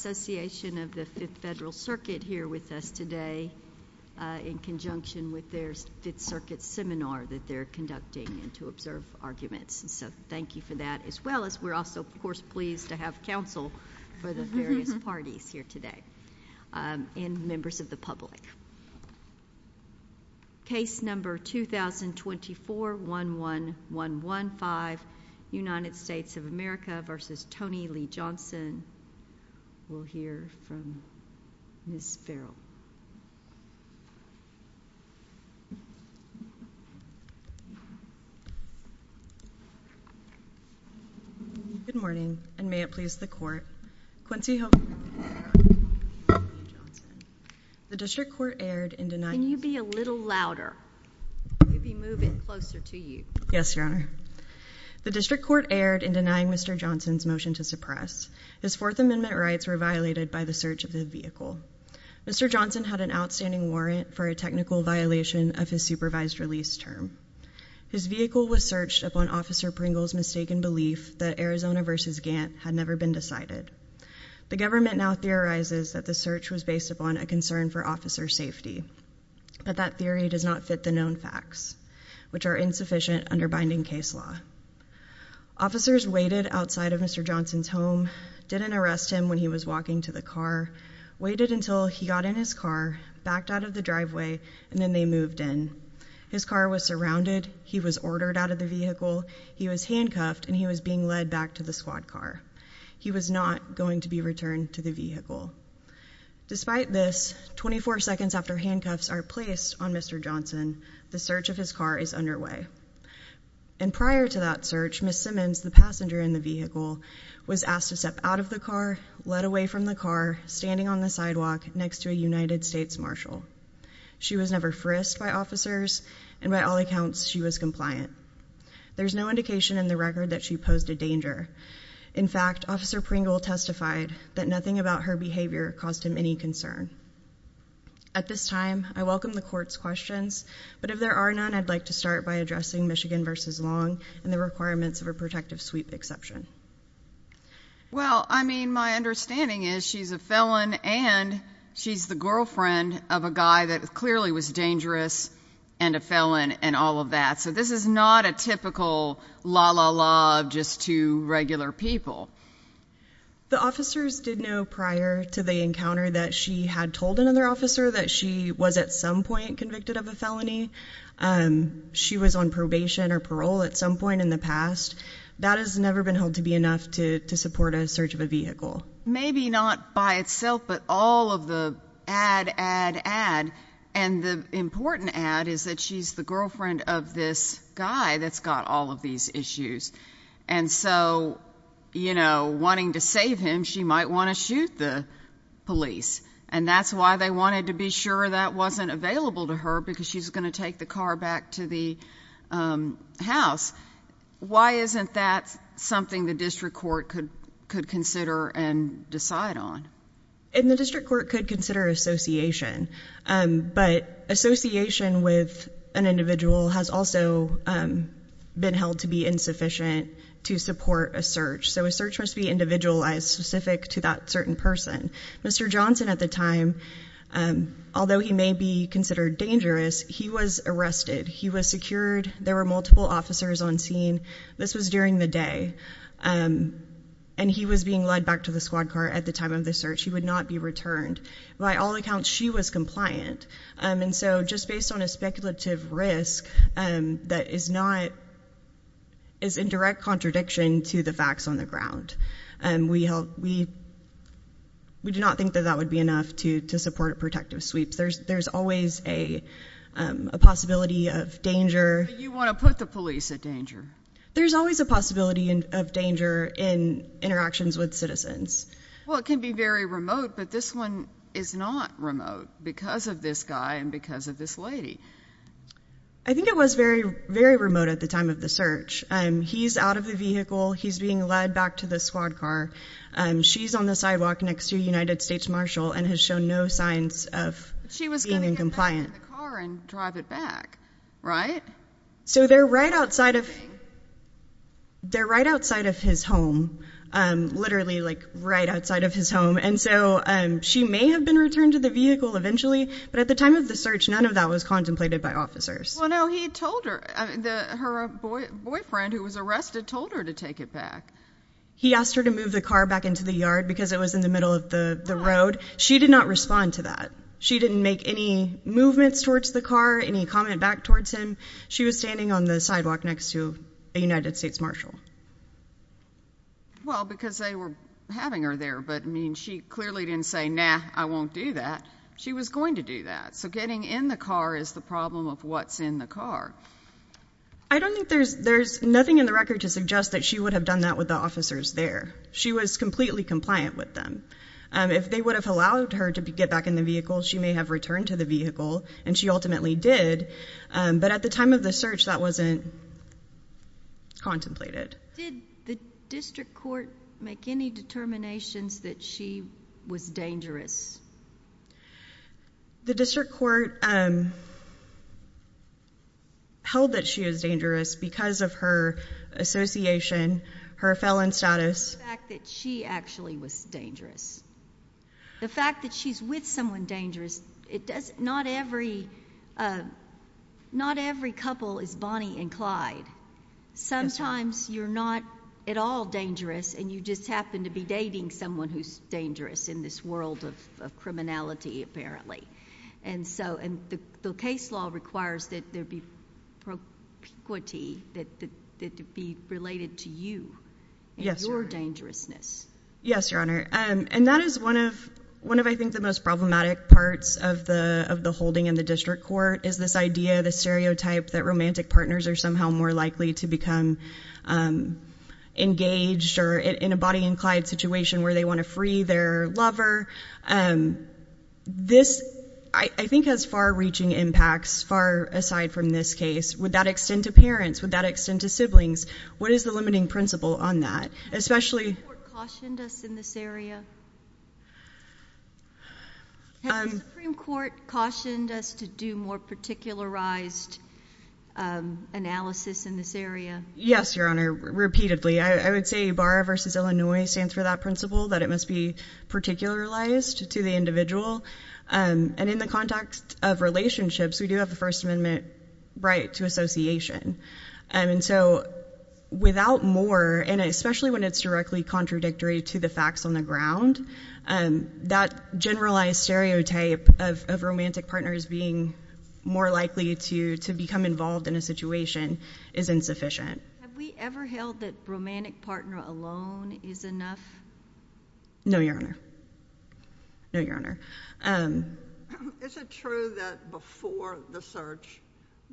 Association of the Fifth Federal Circuit here with us today in conjunction with their Fifth Circuit seminar that they're conducting and to observe arguments, so thank you for that as well as we're also, of course, pleased to have counsel for the various parties here today and members of the public. Case number 2024-11-115, United States of America v. Tony Lee Johnson. We'll hear from Ms. Farrell. Good morning, and may it please the Court. Can you be a little louder? We'll be moving closer to you. Yes, Your Honor. The district court erred in denying Mr. Johnson's motion to suppress. His Fourth Amendment rights were violated by the search of the vehicle. Mr. Johnson had an outstanding warrant for a technical violation of his supervised release term. His vehicle was searched upon Officer Pringle's mistaken belief that Arizona v. Gantt had never been decided. The government now theorizes that the search was based upon a concern for officer safety, but that theory does not fit the known facts, which are insufficient under binding case law. Officers waited outside of Mr. Johnson's home, didn't arrest him when he was walking to the car, waited until he got in his car, backed out of the driveway, and then they moved in. His car was surrounded, he was ordered out of the vehicle, he was handcuffed, and he was being led back to the squad car. He was not going to be returned to the vehicle. Despite this, 24 seconds after handcuffs are placed on Mr. Johnson, the search of his car is underway. And prior to that search, Ms. Simmons, the passenger in the vehicle, was asked to step out of the car, led away from the car, standing on the sidewalk next to a United States marshal. She was never frisked by officers, and by all accounts, she was compliant. There's no indication in the record that she posed a danger. In fact, Officer Pringle testified that nothing about her behavior caused him any concern. At this time, I welcome the court's questions, but if there are none, I'd like to start by addressing Michigan v. Long and the requirements of a protective sweep exception. Well, I mean, my understanding is she's a felon and she's the girlfriend of a guy that clearly was dangerous and a felon and all of that. So this is not a typical la-la-la of just two regular people. The officers did know prior to the encounter that she had told another officer that she was at some point convicted of a felony. She was on probation or parole at some point in the past. That has never been held to be enough to support a search of a vehicle. Maybe not by itself, but all of the ad, ad, ad, and the important ad is that she's the girlfriend of this guy that's got all of these issues. And so, you know, wanting to save him, she might want to shoot the police. And that's why they wanted to be sure that wasn't available to her because she's going to take the car back to the house. Why isn't that something the district court could consider and decide on? And the district court could consider association. But association with an individual has also been held to be insufficient to support a search. So a search must be individualized specific to that certain person. Mr. Johnson at the time, although he may be considered dangerous, he was arrested. He was secured. There were multiple officers on scene. This was during the day. And he was being led back to the squad car at the time of the search. He would not be returned. By all accounts, she was compliant. And so just based on a speculative risk that is not, is in direct contradiction to the facts on the ground, we do not think that that would be enough to support a protective sweep. There's always a possibility of danger. You want to put the police at danger. There's always a possibility of danger in interactions with citizens. Well, it can be very remote, but this one is not remote because of this guy and because of this lady. I think it was very, very remote at the time of the search. He's out of the vehicle. He's being led back to the squad car. She's on the sidewalk next to a United States marshal and has shown no signs of being incompliant. She was going to get back in the car and drive it back, right? So they're right outside of. They're right outside of his home, literally like right outside of his home. And so she may have been returned to the vehicle eventually. But at the time of the search, none of that was contemplated by officers. Well, no, he told her that her boyfriend, who was arrested, told her to take it back. He asked her to move the car back into the yard because it was in the middle of the road. She did not respond to that. She didn't make any movements towards the car, any comment back towards him. She was standing on the sidewalk next to a United States marshal. Well, because they were having her there. But, I mean, she clearly didn't say, nah, I won't do that. She was going to do that. So getting in the car is the problem of what's in the car. I don't think there's nothing in the record to suggest that she would have done that with the officers there. She was completely compliant with them. If they would have allowed her to get back in the vehicle, she may have returned to the vehicle, and she ultimately did. But at the time of the search, that wasn't contemplated. Did the district court make any determinations that she was dangerous? The district court held that she was dangerous because of her association, her felon status. The fact that she actually was dangerous, the fact that she's with someone dangerous, not every couple is Bonnie and Clyde. Sometimes you're not at all dangerous, and you just happen to be dating someone who's dangerous in this world of criminality, apparently. And the case law requires that there be propiquity, that it be related to you and your dangerousness. Yes, Your Honor. And that is one of, I think, the most problematic parts of the holding in the district court, is this idea, this stereotype, that romantic partners are somehow more likely to become engaged or in a Bonnie and Clyde situation where they want to free their lover. This, I think, has far-reaching impacts, far aside from this case. Would that extend to parents? Would that extend to siblings? What is the limiting principle on that? Has the Supreme Court cautioned us in this area? Has the Supreme Court cautioned us to do more particularized analysis in this area? Yes, Your Honor, repeatedly. I would say BARA v. Illinois stands for that principle, that it must be particularized to the individual. And in the context of relationships, we do have the First Amendment right to association. And so without more, and especially when it's directly contradictory to the facts on the ground, that generalized stereotype of romantic partners being more likely to become involved in a situation is insufficient. Have we ever held that romantic partner alone is enough? No, Your Honor. No, Your Honor. Is it true that before the search,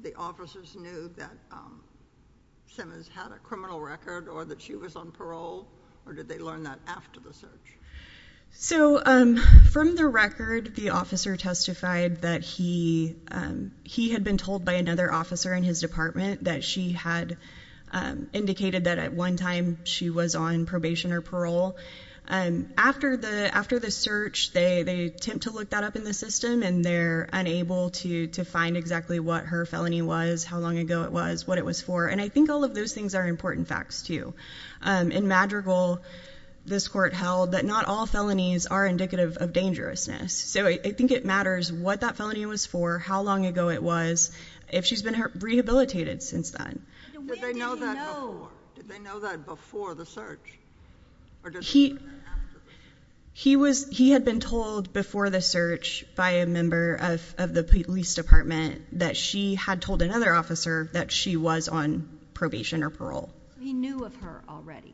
the officers knew that Simmons had a criminal record or that she was on parole, or did they learn that after the search? So from the record, the officer testified that he had been told by another officer in his department that she had indicated that at one time she was on probation or parole. After the search, they attempt to look that up in the system, and they're unable to find exactly what her felony was, how long ago it was, what it was for. And I think all of those things are important facts, too. In Madrigal, this court held that not all felonies are indicative of dangerousness. So I think it matters what that felony was for, how long ago it was, if she's been rehabilitated since then. Did they know that before the search? He had been told before the search by a member of the police department that she had told another officer that she was on probation or parole. He knew of her already.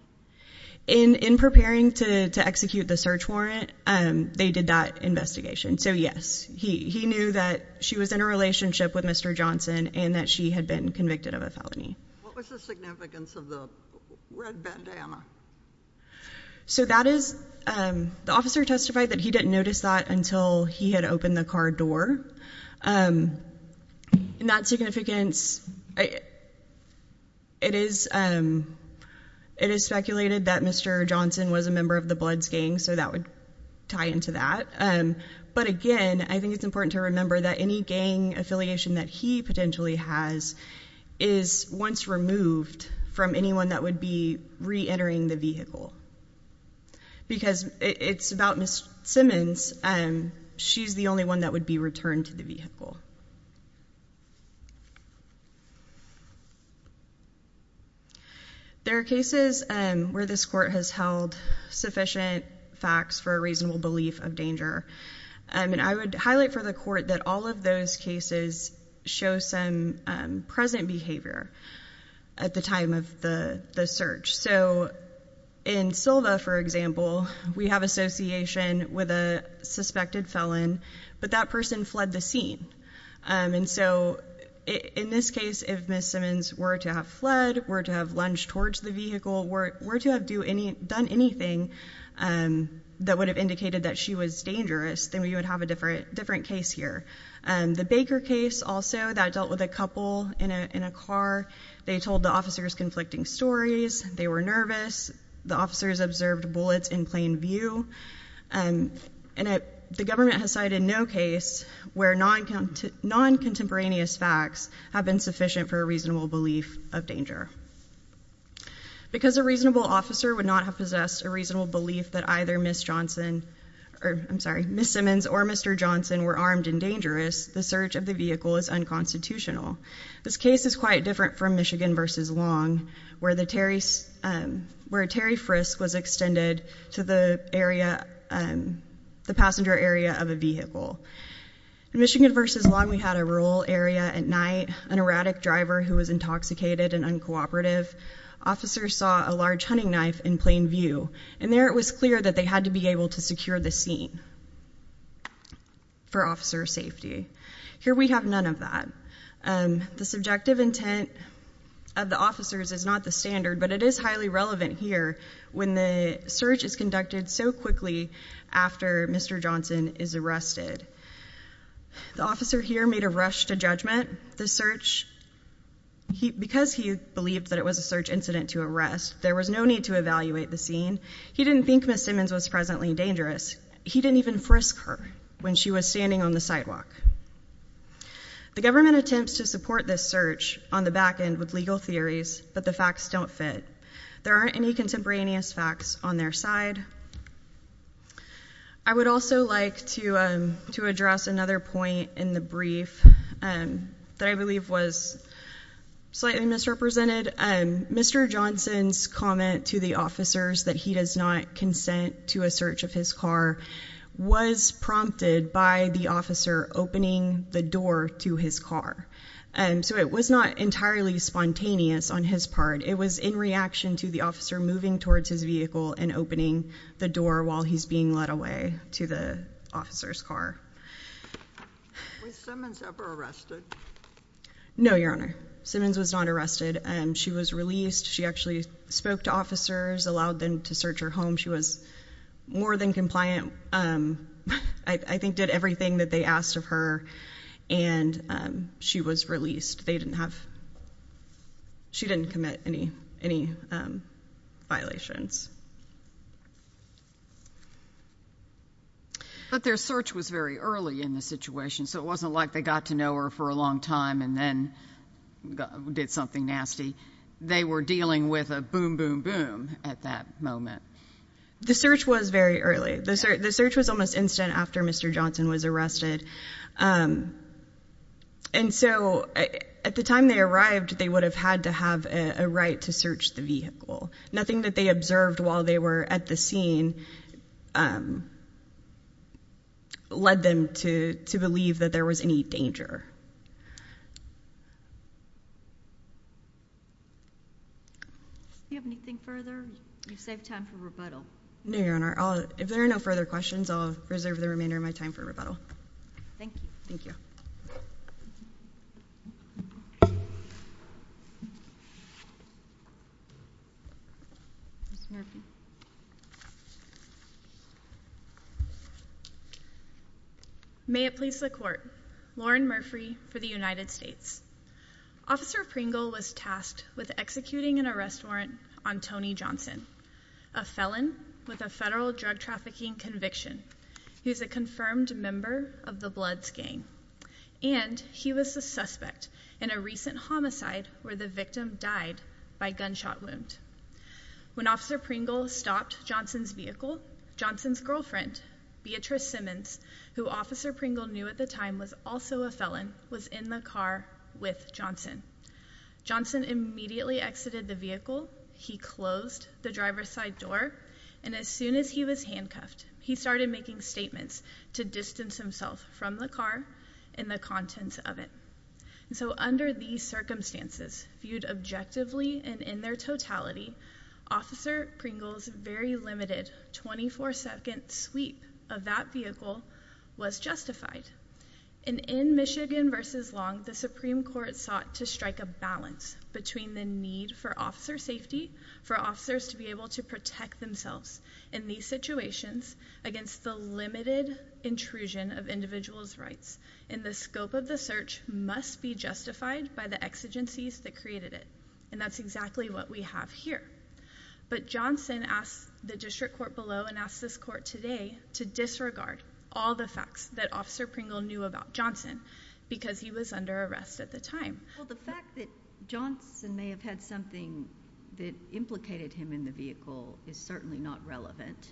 In preparing to execute the search warrant, they did that investigation. So yes, he knew that she was in a relationship with Mr. Johnson and that she had been convicted of a felony. What was the significance of the red bandana? So that is—the officer testified that he didn't notice that until he had opened the car door. In that significance, it is speculated that Mr. Johnson was a member of the Bloods gang, so that would tie into that. But again, I think it's important to remember that any gang affiliation that he potentially has is once removed from anyone that would be reentering the vehicle. Because it's about Ms. Simmons, she's the only one that would be returned to the vehicle. There are cases where this court has held sufficient facts for a reasonable belief of danger. I would highlight for the court that all of those cases show some present behavior at the time of the search. So in Silva, for example, we have association with a suspected felon, but that person fled the scene. And so in this case, if Ms. Simmons were to have fled, were to have lunged towards the vehicle, were to have done anything that would have indicated that she was dangerous, then we would have a different case here. The Baker case also, that dealt with a couple in a car. They told the officers conflicting stories, they were nervous, the officers observed bullets in plain view. And the government has cited no case where non-contemporaneous facts have been sufficient for a reasonable belief of danger. Because a reasonable officer would not have possessed a reasonable belief that either Ms. Johnson, or I'm sorry, Ms. Simmons or Mr. Johnson were armed and dangerous, the search of the vehicle is unconstitutional. This case is quite different from Michigan v. Long, where a Terry Frisk was extended to the area, the passenger area of a vehicle. In Michigan v. Long, we had a rural area at night, an erratic driver who was intoxicated and uncooperative. Officers saw a large hunting knife in plain view. And there it was clear that they had to be able to secure the scene for officer safety. Here we have none of that. The subjective intent of the officers is not the standard, but it is highly relevant here when the search is conducted so quickly after Mr. Johnson is arrested. The officer here made a rush to judgment. The search, because he believed that it was a search incident to arrest, there was no need to evaluate the scene. He didn't think Ms. Simmons was presently dangerous. He didn't even frisk her when she was standing on the sidewalk. The government attempts to support this search on the back end with legal theories, but the facts don't fit. There aren't any contemporaneous facts on their side. I would also like to address another point in the brief that I believe was slightly misrepresented. Mr. Johnson's comment to the officers that he does not consent to a search of his car was prompted by the officer opening the door to his car. So it was not entirely spontaneous on his part. It was in reaction to the officer moving towards his vehicle and opening the door while he's being led away to the officer's car. Was Simmons ever arrested? No, Your Honor. Simmons was not arrested. She was released. She actually spoke to officers, allowed them to search her home. She was more than compliant. I think did everything that they asked of her, and she was released. They didn't have, she didn't commit any violations. But their search was very early in the situation, so it wasn't like they got to know her for a long time and then did something nasty. They were dealing with a boom, boom, boom at that moment. The search was very early. The search was almost instant after Mr. Johnson was arrested. And so at the time they arrived, they would have had to have a right to search the vehicle. Nothing that they observed while they were at the scene led them to believe that there was any danger. Do you have anything further? You've saved time for rebuttal. No, Your Honor. If there are no further questions, I'll reserve the remainder of my time for rebuttal. Thank you. Thank you. Ms. Murphy. May it please the Court. Lauren Murphy for the United States. Officer Pringle was tasked with executing an arrest warrant on Tony Johnson, a felon with a federal drug trafficking conviction who is a confirmed member of the Bloods gang. And he was a suspect in a recent homicide where the victim died by gunshot wound. When Officer Pringle stopped Johnson's vehicle, Johnson's girlfriend, Beatrice Simmons, who Officer Pringle knew at the time was also a felon, was in the car with Johnson. Johnson immediately exited the vehicle. He closed the driver's side door. And as soon as he was handcuffed, he started making statements to distance himself from the car and the contents of it. So under these circumstances, viewed objectively and in their totality, Officer Pringle's very limited 24-second sweep of that vehicle was justified. And in Michigan v. Long, the Supreme Court sought to strike a balance between the need for officer safety, for officers to be able to protect themselves in these situations against the limited intrusion of individuals' rights, and the scope of the search must be justified by the exigencies that created it. And that's exactly what we have here. But Johnson asked the district court below and asked this court today to disregard all the facts that Officer Pringle knew about Johnson because he was under arrest at the time. Well, the fact that Johnson may have had something that implicated him in the vehicle is certainly not relevant.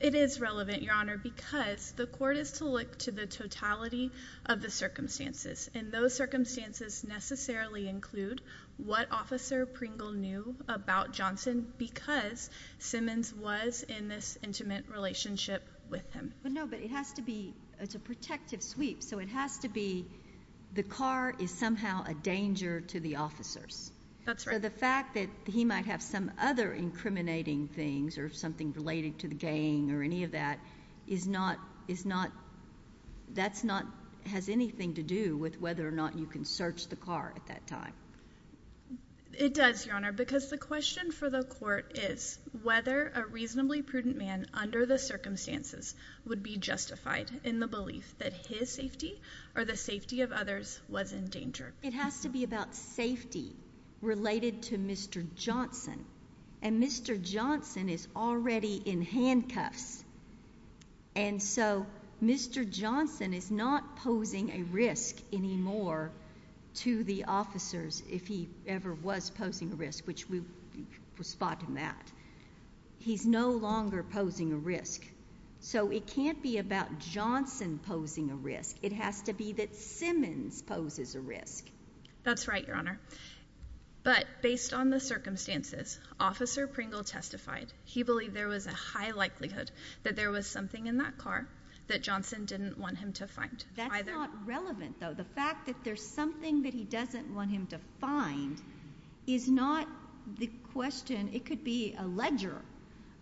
It is relevant, Your Honor, because the court is to look to the totality of the circumstances, and those circumstances necessarily include what Officer Pringle knew about Johnson because Simmons was in this intimate relationship with him. But no, but it has to be a protective sweep. So it has to be the car is somehow a danger to the officers. So the fact that he might have some other incriminating things or something related to the gang or any of that has anything to do with whether or not you can search the car at that time. It does, Your Honor, because the question for the court is whether a reasonably prudent man under the circumstances would be justified in the belief that his safety or the safety of others was in danger. It has to be about safety related to Mr. Johnson. And Mr. Johnson is already in handcuffs. And so Mr. Johnson is not posing a risk anymore to the officers, if he ever was posing a risk, which we will spot in that. He's no longer posing a risk. So it can't be about Johnson posing a risk. It has to be that Simmons poses a risk. That's right, Your Honor. But based on the circumstances, Officer Pringle testified he believed there was a high likelihood that there was something in that car that Johnson didn't want him to find either. That's not relevant, though. The fact that there's something that he doesn't want him to find is not the question. It could be a ledger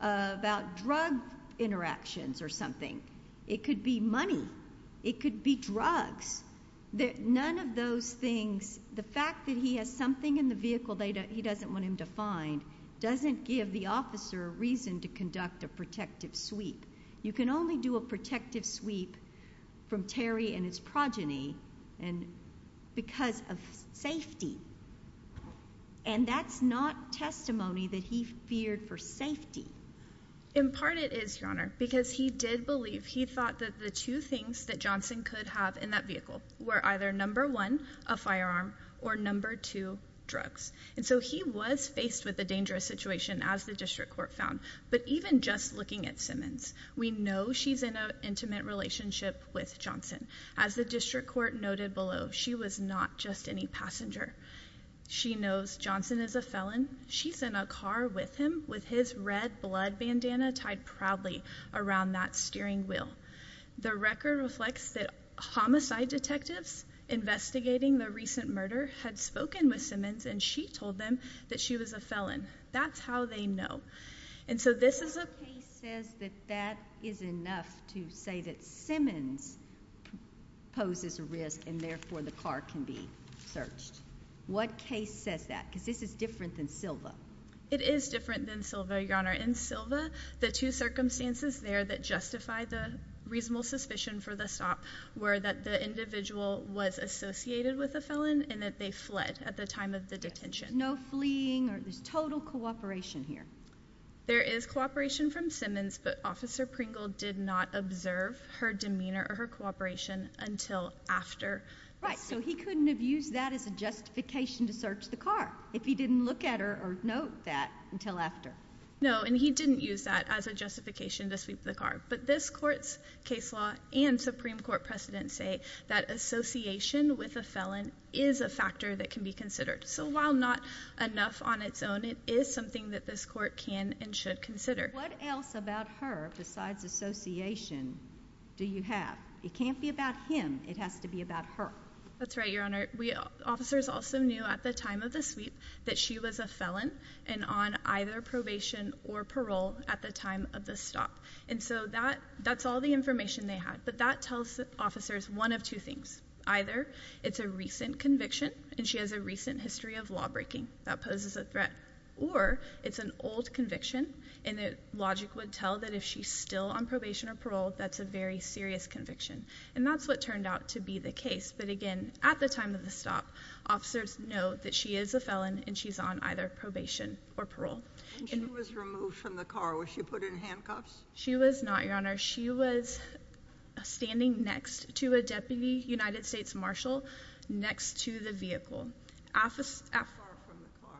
about drug interactions or something. It could be money. It could be drugs. None of those things, the fact that he has something in the vehicle that he doesn't want him to find doesn't give the officer a reason to conduct a protective sweep. You can only do a protective sweep from Terry and his progeny because of safety. And that's not testimony that he feared for safety. In part it is, Your Honor, because he did believe, he thought that the two things that Johnson could have in that vehicle were either, number one, a firearm, or number two, drugs. And so he was faced with a dangerous situation, as the district court found. But even just looking at Simmons, we know she's in an intimate relationship with Johnson. As the district court noted below, she was not just any passenger. She knows Johnson is a felon. She's in a car with him with his red blood bandana tied proudly around that steering wheel. The record reflects that homicide detectives investigating the recent murder had spoken with Simmons, and she told them that she was a felon. That's how they know. And so this is a case that says that that is enough to say that Simmons poses a risk and therefore the car can be searched. What case says that? Because this is different than Silva. It is different than Silva, Your Honor. In Silva, the two circumstances there that justify the reasonable suspicion for the stop were that the individual was associated with a felon and that they fled at the time of the detention. No fleeing or there's total cooperation here. There is cooperation from Simmons, but Officer Pringle did not observe her demeanor or her cooperation until after. Right, so he couldn't have used that as a justification to search the car if he didn't look at her or note that until after. No, and he didn't use that as a justification to sweep the car. But this court's case law and Supreme Court precedent say that association with a felon is a factor that can be considered. So while not enough on its own, it is something that this court can and should consider. What else about her besides association do you have? It can't be about him. It has to be about her. That's right, Your Honor. Officers also knew at the time of the sweep that she was a felon and on either probation or parole at the time of the stop. And so that's all the information they had. But that tells officers one of two things. Either it's a recent conviction, and she has a recent history of lawbreaking. That poses a threat. Or it's an old conviction, and logic would tell that if she's still on probation or parole, that's a very serious conviction. And that's what turned out to be the case. But again, at the time of the stop, officers know that she is a felon and she's on either probation or parole. And she was removed from the car. Was she put in handcuffs? She was not, Your Honor. She was standing next to a Deputy United States Marshal next to the vehicle. How far from the car?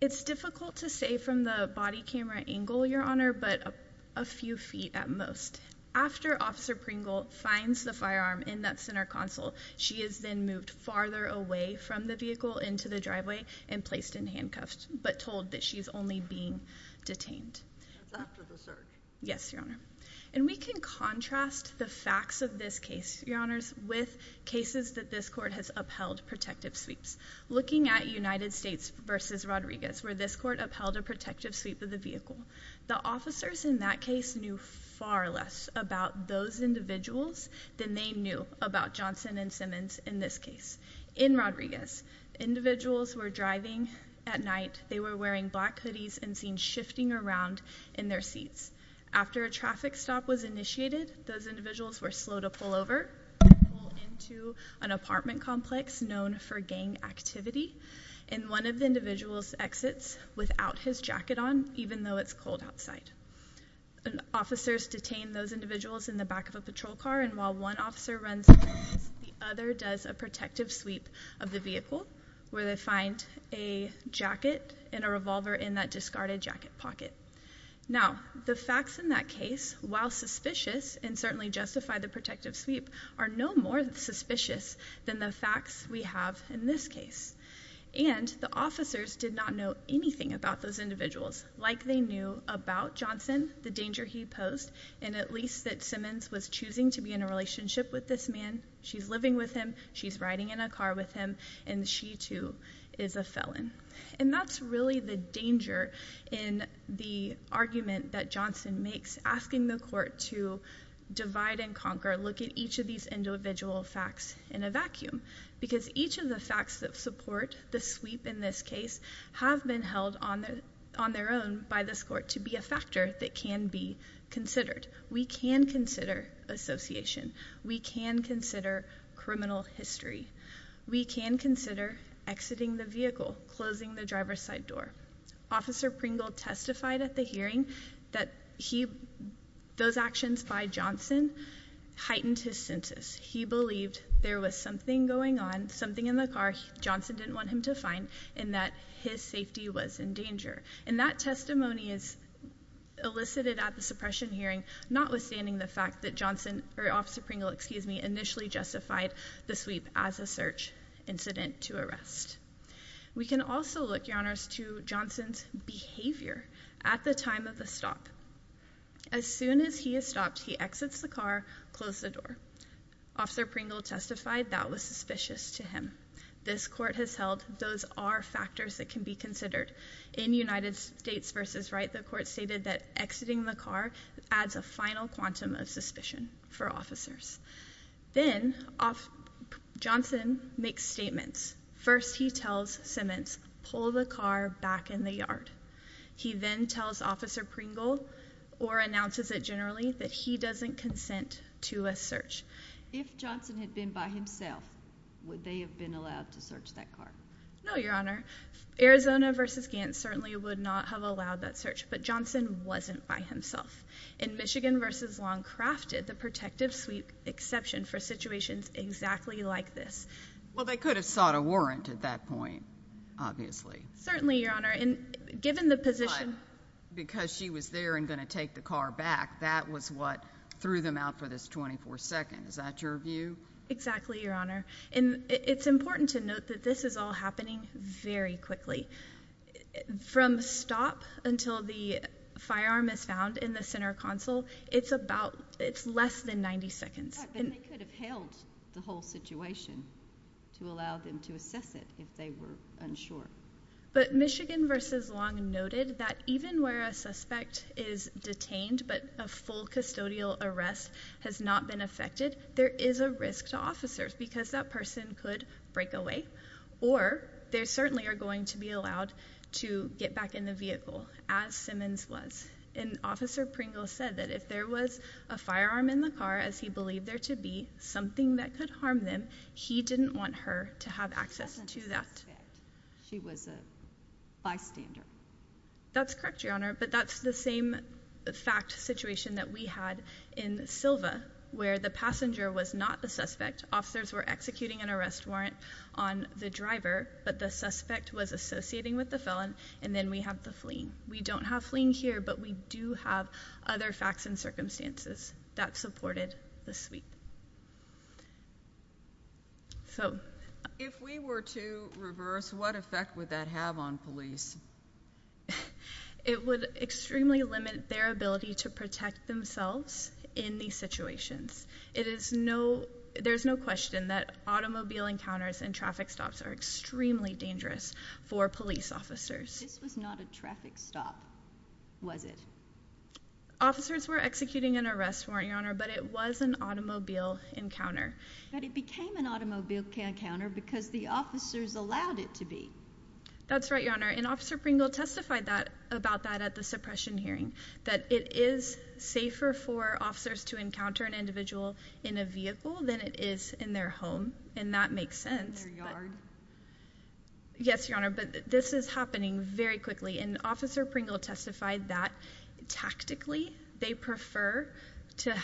It's difficult to say from the body camera angle, Your Honor, but a few feet at most. After Officer Pringle finds the firearm in that center console, she is then moved farther away from the vehicle into the driveway and placed in handcuffs but told that she's only being detained. After the search? Yes, Your Honor. And we can contrast the facts of this case, Your Honors, with cases that this court has upheld protective sweeps. Looking at United States v. Rodriguez, where this court upheld a protective sweep of the vehicle, the officers in that case knew far less about those individuals than they knew about Johnson and Simmons in this case. In Rodriguez, individuals were driving at night. They were wearing black hoodies and seen shifting around in their seats. After a traffic stop was initiated, those individuals were slow to pull over and pull into an apartment complex known for gang activity, and one of the individuals exits without his jacket on, even though it's cold outside. Officers detain those individuals in the back of a patrol car, and while one officer runs, the other does a protective sweep of the vehicle where they find a jacket and a revolver in that discarded jacket pocket. Now, the facts in that case, while suspicious and certainly justify the protective sweep, are no more suspicious than the facts we have in this case. And the officers did not know anything about those individuals, like they knew about Johnson, the danger he posed, and at least that Simmons was choosing to be in a relationship with this man. She's living with him. She's riding in a car with him. And she, too, is a felon. And that's really the danger in the argument that Johnson makes, asking the court to divide and conquer, look at each of these individual facts in a vacuum, because each of the facts that support the sweep in this case have been held on their own by this court to be a factor that can be considered. We can consider association. We can consider criminal history. We can consider exiting the vehicle, closing the driver's side door. Officer Pringle testified at the hearing that those actions by Johnson heightened his senses. He believed there was something going on, something in the car Johnson didn't want him to find, and that his safety was in danger. And that testimony is elicited at the suppression hearing, notwithstanding the fact that Officer Pringle initially justified the sweep as a search incident to arrest. We can also look, Your Honors, to Johnson's behavior at the time of the stop. As soon as he has stopped, he exits the car, closes the door. Officer Pringle testified that was suspicious to him. This court has held those are factors that can be considered. In United States v. Wright, the court stated that exiting the car adds a final quantum of suspicion for officers. Then, Johnson makes statements. First, he tells Simmons, pull the car back in the yard. He then tells Officer Pringle, or announces it generally, that he doesn't consent to a search. If Johnson had been by himself, would they have been allowed to search that car? No, Your Honor. Arizona v. Gants certainly would not have allowed that search, but Johnson wasn't by himself. And Michigan v. Long crafted the protective sweep exception for situations exactly like this. Well, they could have sought a warrant at that point, obviously. Certainly, Your Honor. But because she was there and going to take the car back, that was what threw them out for this 24 seconds. Is that your view? Exactly, Your Honor. It's important to note that this is all happening very quickly. From stop until the firearm is found in the center console, it's less than 90 seconds. They could have held the whole situation to allow them to assess it if they were unsure. But Michigan v. Long noted that even where a suspect is detained but a full custodial arrest has not been effected, there is a risk to officers because that person could break away, or they certainly are going to be allowed to get back in the vehicle, as Simmons was. And Officer Pringle said that if there was a firearm in the car, as he believed there to be, something that could harm them, he didn't want her to have access to that. She was a bystander. That's correct, Your Honor. But that's the same fact situation that we had in Silva, where the passenger was not the suspect. Officers were executing an arrest warrant on the driver, but the suspect was associating with the felon, and then we have the fleeing. We don't have fleeing here, but we do have other facts and circumstances. That's supported this week. If we were to reverse, what effect would that have on police? It would extremely limit their ability to protect themselves in these situations. There's no question that automobile encounters and traffic stops are extremely dangerous for police officers. This was not a traffic stop, was it? Officers were executing an arrest warrant, Your Honor, but it was an automobile encounter. But it became an automobile encounter because the officers allowed it to be. That's right, Your Honor. And Officer Pringle testified about that at the suppression hearing, that it is safer for officers to encounter an individual in a vehicle than it is in their home, and that makes sense. In their yard? Yes, Your Honor, but this is happening very quickly, and Officer Pringle testified that tactically they prefer to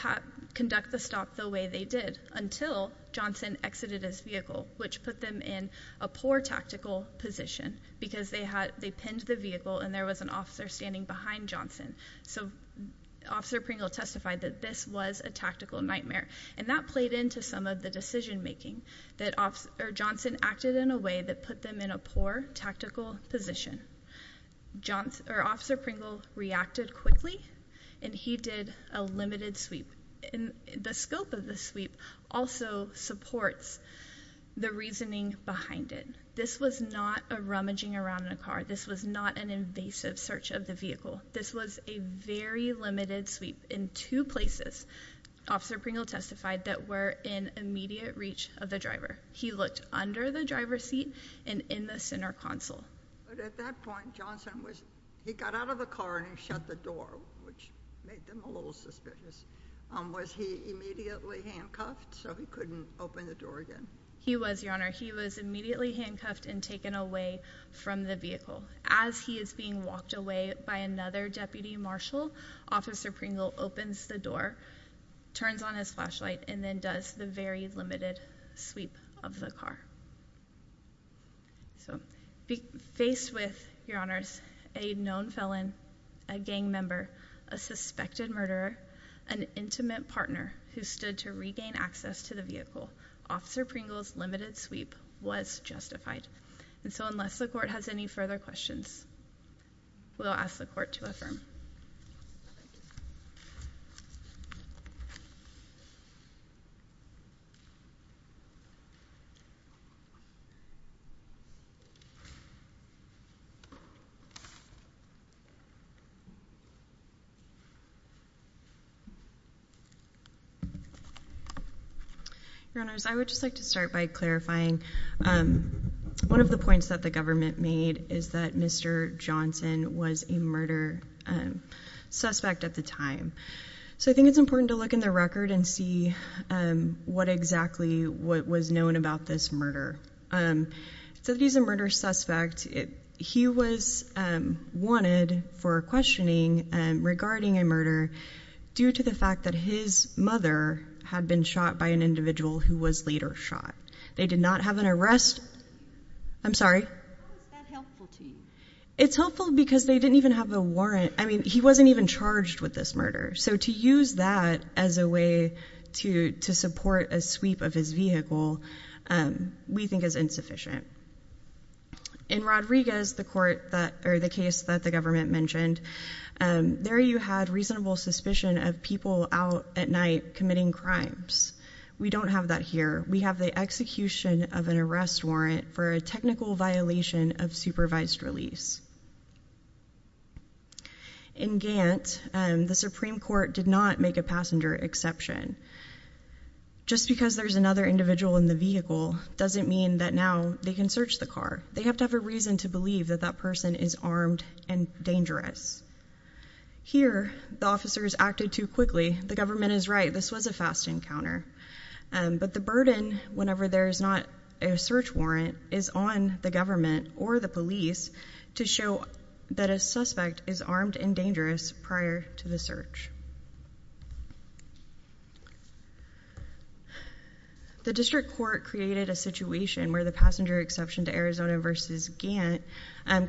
conduct the stop the way they did until Johnson exited his vehicle, which put them in a poor tactical position because they pinned the vehicle and there was an officer standing behind Johnson. So Officer Pringle testified that this was a tactical nightmare, and that played into some of the decision-making, that Johnson acted in a way that put them in a poor tactical position. Officer Pringle reacted quickly, and he did a limited sweep. The scope of the sweep also supports the reasoning behind it. This was not a rummaging around in a car. This was not an invasive search of the vehicle. This was a very limited sweep in two places, Officer Pringle testified, that were in immediate reach of the driver. He looked under the driver's seat and in the center console. At that point, Johnson got out of the car and shut the door, which made them a little suspicious. Was he immediately handcuffed so he couldn't open the door again? He was, Your Honor. He was immediately handcuffed and taken away from the vehicle. As he is being walked away by another deputy marshal, Officer Pringle opens the door, turns on his flashlight, and then does the very limited sweep of the car. Faced with, Your Honors, a known felon, a gang member, a suspected murderer, an intimate partner who stood to regain access to the vehicle, Officer Pringle's limited sweep was justified. Unless the court has any further questions, we'll ask the court to affirm. Your Honors, I would just like to start by clarifying one of the points that the government made is that Mr. Johnson was a murder suspect at the time. So I think it's important to look in the record and see what exactly was known about this murder. So that he's a murder suspect, he was wanted for questioning regarding a murder due to the fact that his mother had been shot by an individual who was later shot. They did not have an arrest. I'm sorry? How is that helpful to you? It's helpful because they didn't even have a warrant. I mean, he wasn't even charged with this murder. So to use that as a way to support a sweep of his vehicle, we think is insufficient. In Rodriguez, the case that the government mentioned, there you had reasonable suspicion of people out at night committing crimes. We don't have that here. We have the execution of an arrest warrant for a technical violation of supervised release. In Gantt, the Supreme Court did not make a passenger exception. Just because there's another individual in the vehicle doesn't mean that now they can search the car. They have to have a reason to believe that that person is armed and dangerous. Here, the officers acted too quickly. The government is right. This was a fast encounter. But the burden, whenever there is not a search warrant, is on the government or the police to show that a suspect is armed and dangerous prior to the search. The district court created a situation where the passenger exception to Arizona v. Gantt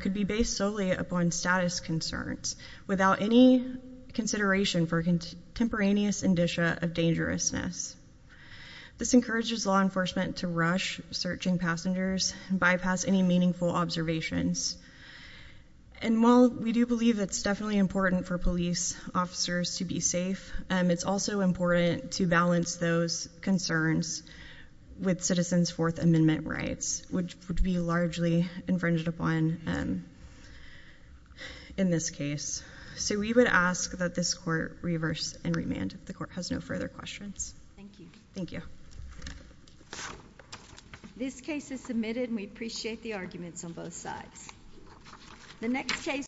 could be based solely upon status concerns, without any consideration for contemporaneous indicia of dangerousness. This encourages law enforcement to rush searching passengers and bypass any meaningful observations. And while we do believe it's definitely important for police officers to be safe, it's also important to balance those concerns with citizens' Fourth Amendment rights, which would be largely infringed upon in this case. So we would ask that this court reverse and remand. The court has no further questions. Thank you. Thank you. This case is submitted, and we appreciate the arguments on both sides.